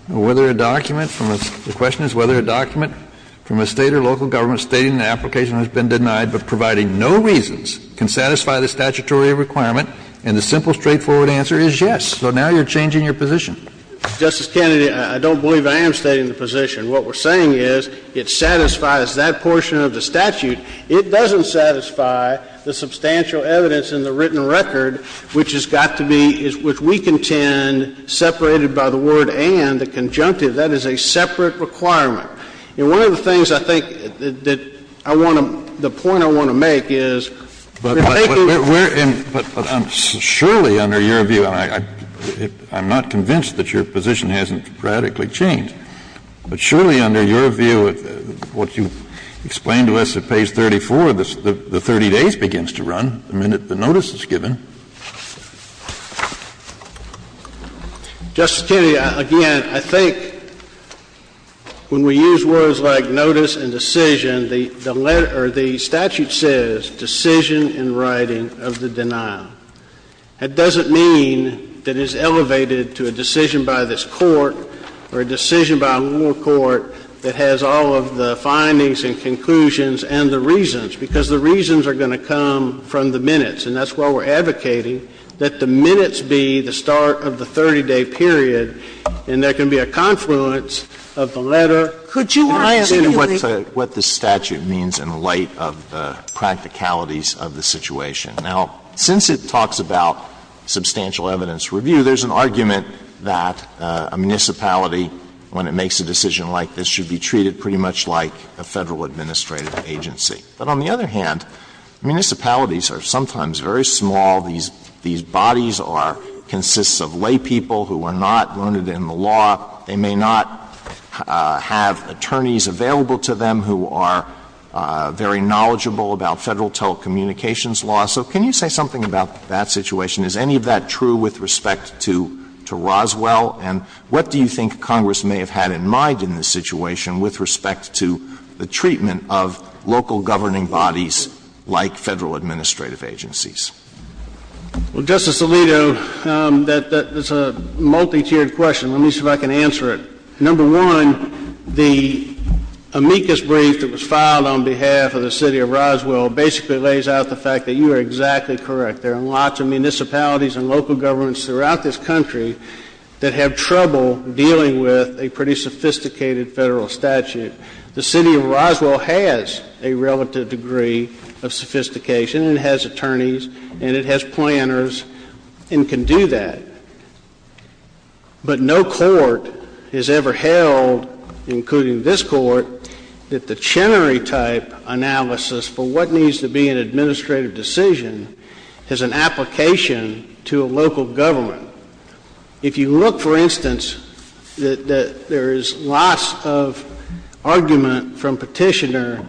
whether a document from a, the question is whether a document from a State or local government stating the application has been denied, but providing no reasons, can satisfy the statutory requirement, and the simple, straightforward answer is yes. So now you're changing your position. Kennedy Justice Kennedy, I don't believe I am stating the position. What we're saying is it satisfies that portion of the statute. It doesn't satisfy the substantial evidence in the written record, which has got to be, which we contend, separated by the word and, the conjunctive. That is a separate requirement. And one of the things I think that I want to, the point I want to make is, we're taking Kennedy But we're, but surely under your view, and I'm not convinced that your position hasn't radically changed, but surely under your view, what you explained to us at page 34, the 30 days begins to run the minute the notice is given. Justice Kennedy, again, I think when we use words like notice and decision, the, the letter, or the statute says decision in writing of the denial. That doesn't mean that it's elevated to a decision by this Court, or a decision by a lower court that has all of the findings and conclusions and the reasons, because the reasons are going to come from the minutes, and that's why we're advocating that the minutes be the start of the 30-day period, and there can be a confluence of the letter. Could you argue that it would be? Alito Can I say what the statute means in light of the practicalities of the situation? Now, since it talks about substantial evidence review, there's an argument that a municipality, when it makes a decision like this, should be treated pretty much like a Federal administrative agency. But on the other hand, municipalities are sometimes very small. These, these bodies are, consists of laypeople who are not learned in the law. They may not have attorneys available to them who are very knowledgeable about Federal telecommunications law. So can you say something about that situation? Is any of that true with respect to, to Roswell? And what do you think Congress may have had in mind in this situation with respect to the treatment of local governing bodies like Federal administrative agencies? Well, Justice Alito, that, that is a multi-tiered question. Let me see if I can answer it. Number one, the amicus brief that was filed on behalf of the City of Roswell basically lays out the fact that you are exactly correct. There are lots of municipalities and local governments throughout this country that have trouble dealing with a pretty sophisticated Federal statute. The City of Roswell has a relative degree of sophistication and has attorneys and it has planners and can do that. But no court has ever held, including this court, that the Chenery-type analysis for what needs to be an administrative decision has an application to a local government. If you look, for instance, that, that there is lots of argument from Petitioner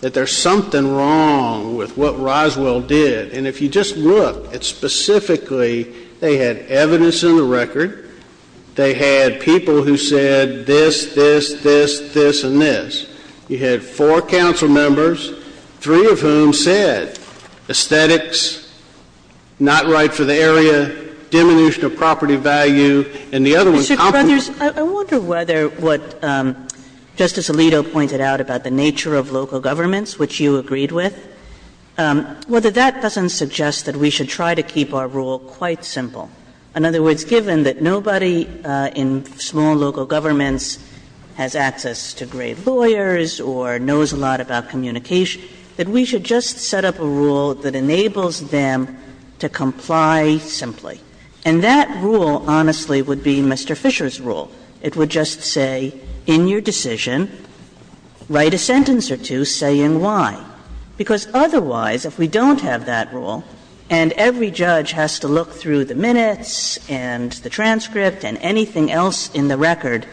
that there's something wrong with what Roswell did. And if you just look at specifically, they had evidence in the record. They had people who said this, this, this, this, and this. You had four council members, three of whom said aesthetics, not right for the area, and one of them said that there was a diminution of property value, and the other was complement. Kagan. Sotomayor, I wonder whether what Justice Alito pointed out about the nature of local governments, which you agreed with, whether that doesn't suggest that we should try to keep our rule quite simple. In other words, given that nobody in small local governments has access to great And that rule, honestly, would be Mr. Fisher's rule. It would just say, in your decision, write a sentence or two saying why. Because otherwise, if we don't have that rule, and every judge has to look through the minutes and the transcript and anything else in the record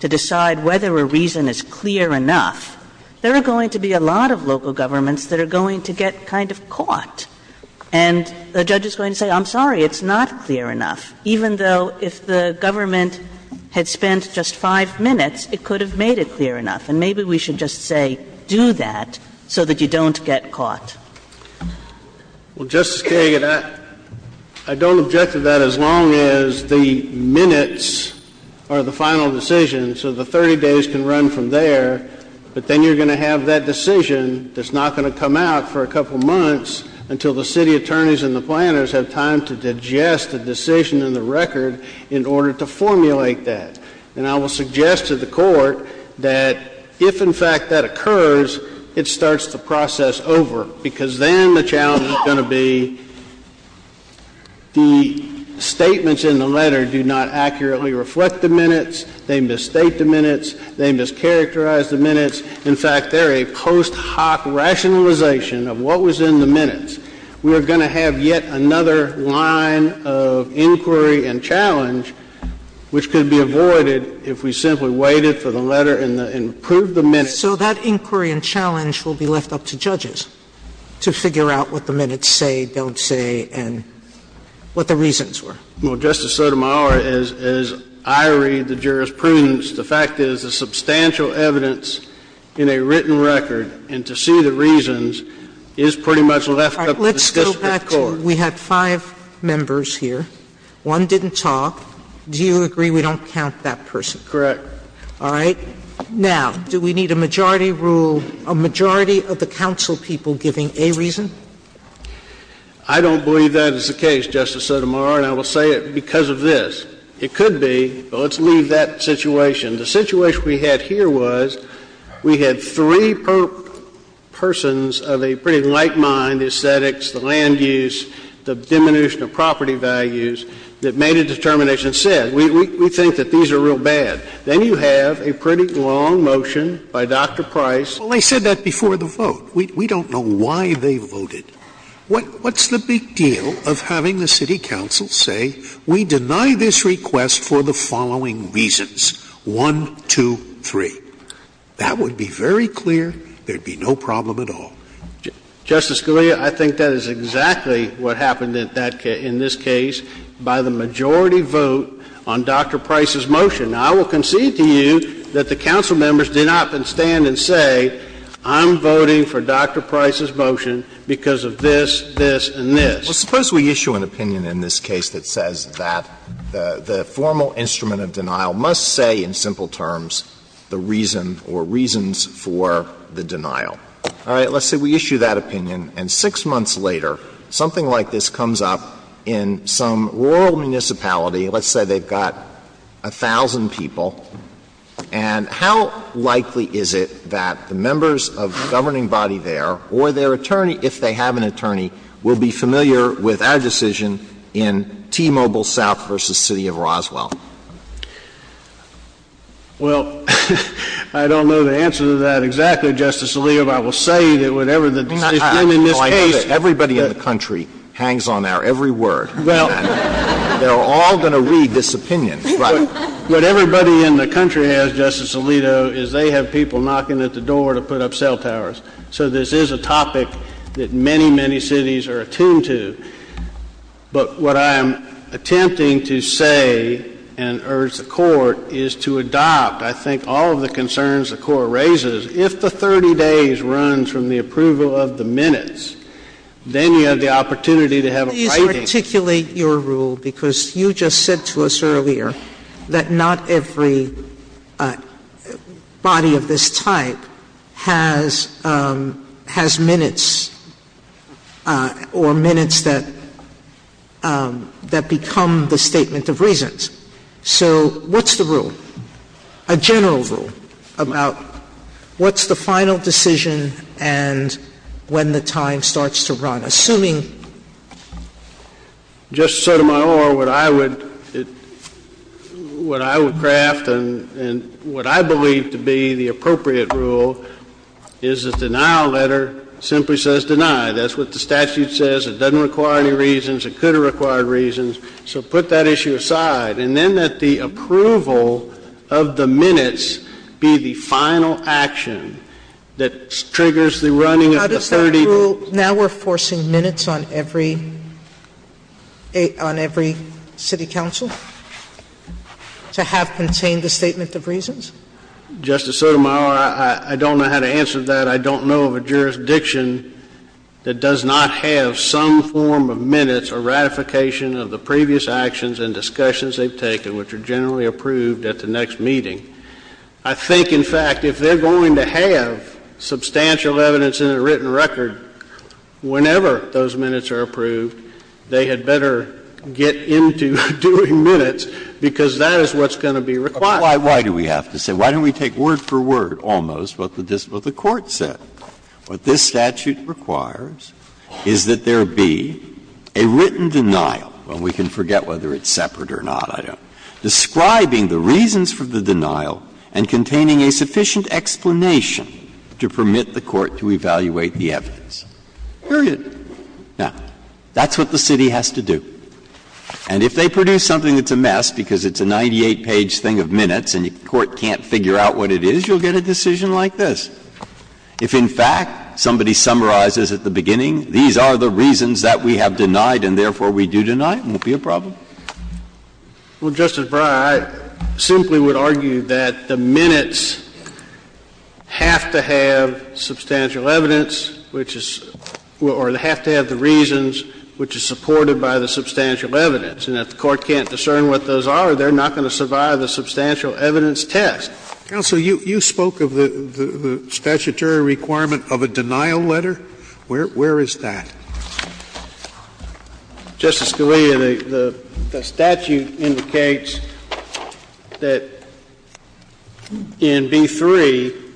to decide whether a reason is clear enough, there are going to be a lot of local governments that are going to get kind of caught. And the judge is going to say, I'm sorry, it's not clear enough, even though if the government had spent just five minutes, it could have made it clear enough. And maybe we should just say do that so that you don't get caught. Well, Justice Kagan, I don't object to that as long as the minutes are the final decision, so the 30 days can run from there, but then you're going to have that decision that's not going to come out for a couple months until the city attorneys and the planners have time to digest the decision in the record in order to formulate that. And I will suggest to the Court that if, in fact, that occurs, it starts the process over, because then the challenge is going to be the statements in the letter do not accurately reflect the minutes, they misstate the minutes, they mischaracterize the minutes. In fact, they're a post hoc rationalization of what was in the minutes. We are going to have yet another line of inquiry and challenge which could be avoided if we simply waited for the letter and approved the minutes. So that inquiry and challenge will be left up to judges to figure out what the minutes say, don't say, and what the reasons were. Well, Justice Sotomayor, as I read the jurisprudence, the fact is the substantial evidence in a written record, and to see the reasons, is pretty much left up to the district court. Let's go back to we had five members here. One didn't talk. Do you agree we don't count that person? Correct. All right. Now, do we need a majority rule, a majority of the council people giving a reason? I don't believe that is the case, Justice Sotomayor, and I will say it because of this. It could be, well, let's leave that situation. The situation we had here was we had three persons of a pretty like mind, the aesthetics, the land use, the diminution of property values, that made a determination said, we think that these are real bad. Then you have a pretty long motion by Dr. Price. Well, they said that before the vote. We don't know why they voted. What's the big deal of having the city council say we deny this request for the following reasons, one, two, three? That would be very clear. There would be no problem at all. Justice Scalia, I think that is exactly what happened in that case, in this case, by the majority vote on Dr. Price's motion. Now, I will concede to you that the council members did not then stand and say I'm voting for Dr. Price's motion because of this, this, and this. Well, suppose we issue an opinion in this case that says that the formal instrument of denial must say in simple terms the reason or reasons for the denial. All right. Let's say we issue that opinion. And six months later, something like this comes up in some rural municipality. Let's say they've got 1,000 people. And how likely is it that the members of the governing body there or their attorney, if they have an attorney, will be familiar with our decision in T-Mobile South v. City of Roswell? Well, I don't know the answer to that exactly, Justice Alito, but I will say that whatever the decision in this case that — Everybody in the country hangs on our every word. They're all going to read this opinion. What everybody in the country has, Justice Alito, is they have people knocking at the door to put up cell towers. So this is a topic that many, many cities are attuned to. But what I am attempting to say and urge the Court is to adopt, I think, all of the concerns the Court raises. If the 30 days runs from the approval of the minutes, then you have the opportunity to have a fighting. Please articulate your rule, because you just said to us earlier that not every body of this type has minutes or minutes that become the statement of reasons. So what's the rule, a general rule, about what's the final decision and when the time starts to run? Assuming — Justice Sotomayor, what I would craft and what I believe to be the appropriate rule is the denial letter simply says deny. That's what the statute says. It doesn't require any reasons. It could have required reasons. So put that issue aside. And then let the approval of the minutes be the final action that triggers the running of the 30 days. How does that rule — now we're forcing minutes on every — on every city council to have contained the statement of reasons? Justice Sotomayor, I don't know how to answer that. I don't know of a jurisdiction that does not have some form of minutes or ratification of the previous actions and discussions they've taken, which are generally approved at the next meeting. I think, in fact, if they're going to have substantial evidence in a written record whenever those minutes are approved, they had better get into doing minutes, because that is what's going to be required. Why do we have to say — why don't we take word for word almost what the court said? What this statute requires is that there be a written denial, and we can forget whether it's separate or not. I don't know. Describing the reasons for the denial and containing a sufficient explanation to permit the court to evaluate the evidence. Period. Now, that's what the city has to do. And if they produce something that's a mess because it's a 98-page thing of minutes and the court can't figure out what it is, you'll get a decision like this. If, in fact, somebody summarizes at the beginning, these are the reasons that we have denied and therefore we do deny it, it won't be a problem. Well, Justice Breyer, I simply would argue that the minutes have to have substantial evidence, which is — or they have to have the reasons, which is supported by the substantial evidence. And if the court can't discern what those are, they're not going to survive the substantial evidence test. Counsel, you spoke of the statutory requirement of a denial letter. Where is that? Justice Scalia, the statute indicates that in B-3,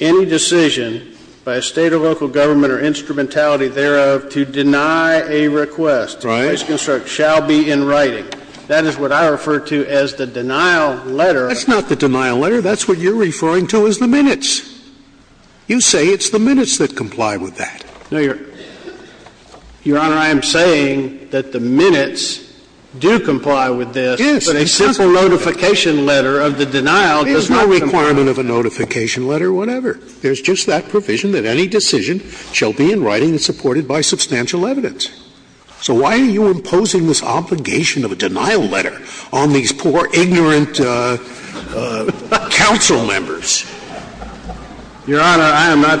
any decision by a State or local government or instrumentality thereof to deny a request — Right. — shall be in writing. That is what I refer to as the denial letter. That's not the denial letter. That's what you're referring to as the minutes. You say it's the minutes that comply with that. No, Your Honor, I am saying that the minutes do comply with this. Yes. But a simple notification letter of the denial does not comply. There's no requirement of a notification letter, whatever. There's just that provision that any decision shall be in writing and supported by substantial evidence. I'm not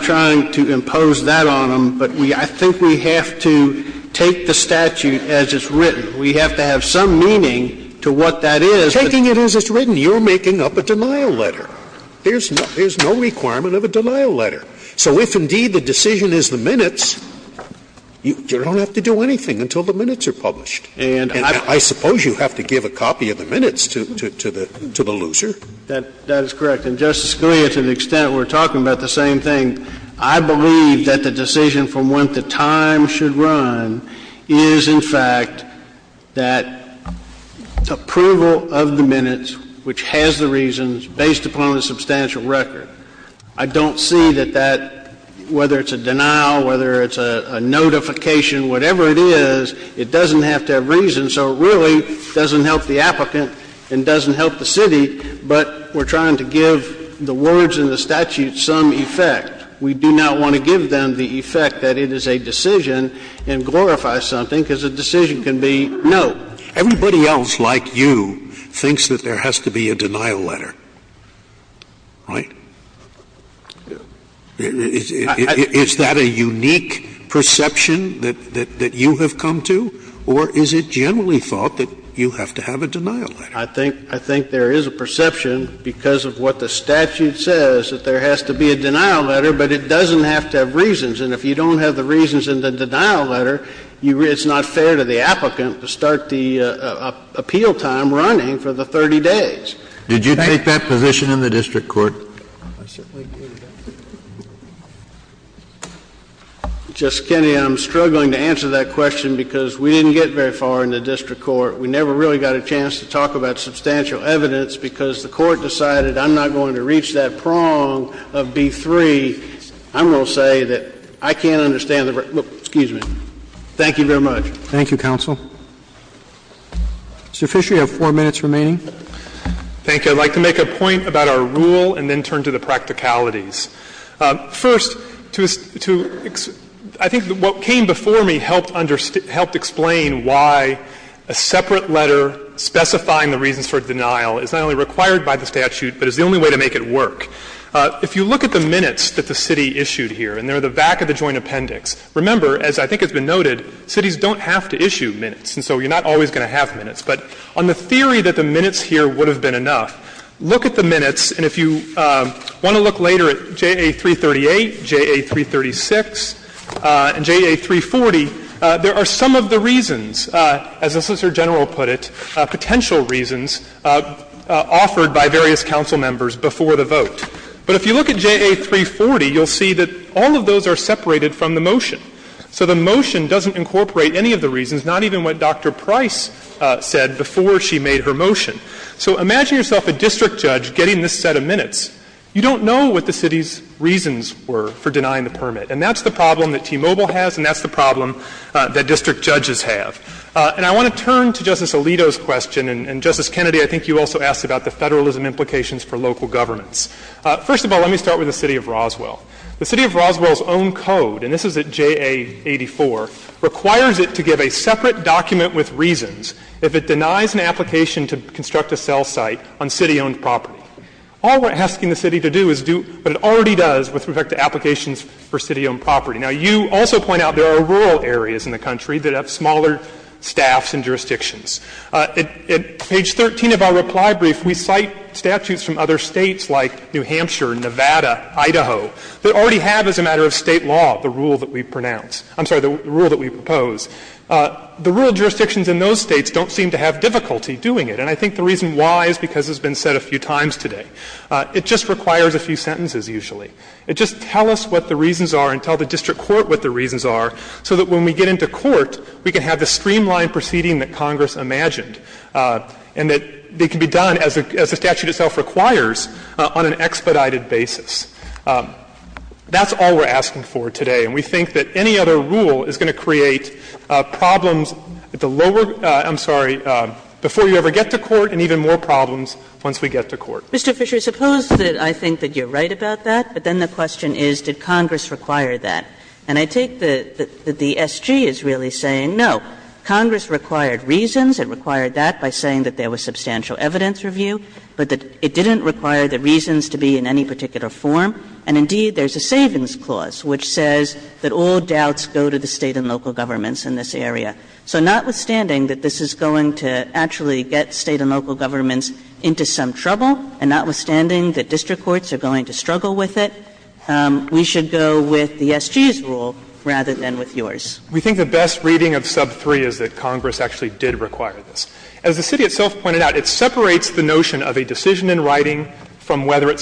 trying to impose that on them, but we — I think we have to take the statute as it's written. We have to have some meaning to what that is. Taking it as it's written, you're making up a denial letter. There's no requirement of a denial letter. So if, indeed, the decision is the minutes, you don't have to do anything until the minutes are published. That is correct. And, Justice Scalia, to the extent we're talking about the same thing, I believe that the decision from whence the time should run is, in fact, that approval of the minutes, which has the reasons, based upon the substantial record. I don't see that that, whether it's a denial, whether it's a notification, whatever it is, it doesn't have to have reasons. And so it really doesn't help the applicant and doesn't help the city, but we're trying to give the words in the statute some effect. We do not want to give them the effect that it is a decision and glorify something, because a decision can be no. Everybody else, like you, thinks that there has to be a denial letter. Right? Is that a unique perception that you have come to? Or is it generally thought that you have to have a denial letter? I think there is a perception, because of what the statute says, that there has to be a denial letter, but it doesn't have to have reasons. And if you don't have the reasons in the denial letter, it's not fair to the applicant to start the appeal time running for the 30 days. Thank you. Did you take that position in the district court? I certainly did. Justice Kennedy, I'm struggling to answer that question, because we didn't get very far in the district court. We never really got a chance to talk about substantial evidence, because the court decided I'm not going to reach that prong of B-3. I'm going to say that I can't understand the verdict. Excuse me. Thank you very much. Thank you, counsel. Mr. Fisher, you have four minutes remaining. Thank you. I'd like to make a point about our rule and then turn to the practicalities. First, I think what came before me helped explain why a separate letter specifying the reasons for denial is not only required by the statute, but is the only way to make it work. If you look at the minutes that the city issued here, and they're the back of the joint appendix, remember, as I think has been noted, cities don't have to issue minutes, and so you're not always going to have minutes. But on the theory that the minutes here would have been enough, look at the minutes and if you want to look later at J.A. 338, J.A. 336, and J.A. 340, there are some of the reasons, as the Solicitor General put it, potential reasons offered by various council members before the vote. But if you look at J.A. 340, you'll see that all of those are separated from the motion. So the motion doesn't incorporate any of the reasons, not even what Dr. Price said before she made her motion. So imagine yourself a district judge getting this set of minutes. You don't know what the city's reasons were for denying the permit. And that's the problem that T-Mobile has and that's the problem that district judges have. And I want to turn to Justice Alito's question, and, Justice Kennedy, I think you also asked about the federalism implications for local governments. First of all, let me start with the City of Roswell. The City of Roswell's own code, and this is at J.A. 84, requires it to give a separate document with reasons if it denies an application to construct a cell site on city-owned property. All we're asking the city to do is do what it already does with respect to applications for city-owned property. Now, you also point out there are rural areas in the country that have smaller staffs and jurisdictions. At page 13 of our reply brief, we cite statutes from other states like New Hampshire, Nevada, Idaho, that already have as a matter of State law the rule that we pronounce — I'm sorry, the rule that we propose. The rural jurisdictions in those states don't seem to have difficulty doing it. And I think the reason why is because it's been said a few times today. It just requires a few sentences usually. It just tells us what the reasons are and tells the district court what the reasons are so that when we get into court, we can have the streamlined proceeding that Congress imagined and that they can be done as the statute itself requires on an expedited basis. That's all we're asking for today. And we think that any other rule is going to create problems at the lower — I'm sorry, before you ever get to court and even more problems once we get to court. Kagan. Mr. Fisher, suppose that I think that you're right about that, but then the question is, did Congress require that? And I take that the SG is really saying, no, Congress required reasons. It required that by saying that there was substantial evidence review, but that it didn't require the reasons to be in any particular form. And indeed, there's a Savings Clause which says that all doubts go to the State and local governments in this area. So notwithstanding that this is going to actually get State and local governments into some trouble, and notwithstanding that district courts are going to struggle with it, we should go with the SG's rule rather than with yours. We think the best reading of sub 3 is that Congress actually did require this. As the city itself pointed out, it separates the notion of a decision in writing from whether it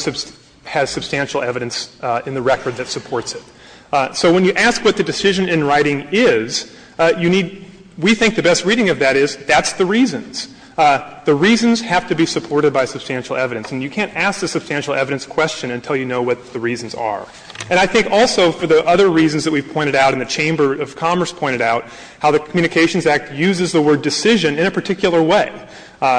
has substantial evidence in the record that supports it. So when you ask what the decision in writing is, you need we think the best reading of that is that's the reasons. The reasons have to be supported by substantial evidence. And you can't ask the substantial evidence question until you know what the reasons are. And I think also for the other reasons that we've pointed out and the Chamber of Commerce pointed out, how the Communications Act uses the word decision in a particular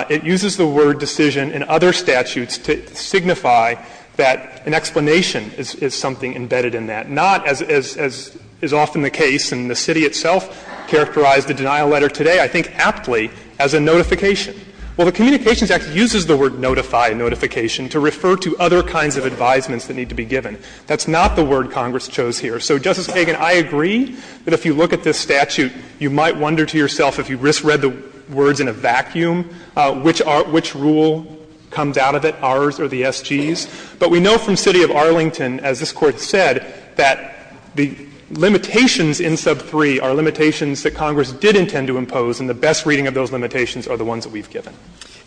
It uses the word decision in other statutes to signify that an explanation is something embedded in that. Not as is often the case, and the city itself characterized the denial letter today I think aptly as a notification. Well, the Communications Act uses the word notify notification to refer to other kinds of advisements that need to be given. That's not the word Congress chose here. So, Justice Kagan, I agree that if you look at this statute, you might wonder to yourself if you just read the words in a vacuum, which rule comes out of it, ours or the SG's. But we know from city of Arlington, as this Court said, that the limitations in sub 3 are limitations that Congress did intend to impose, and the best reading of those limitations are the ones that we've given.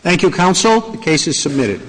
Thank you, counsel. The case is submitted.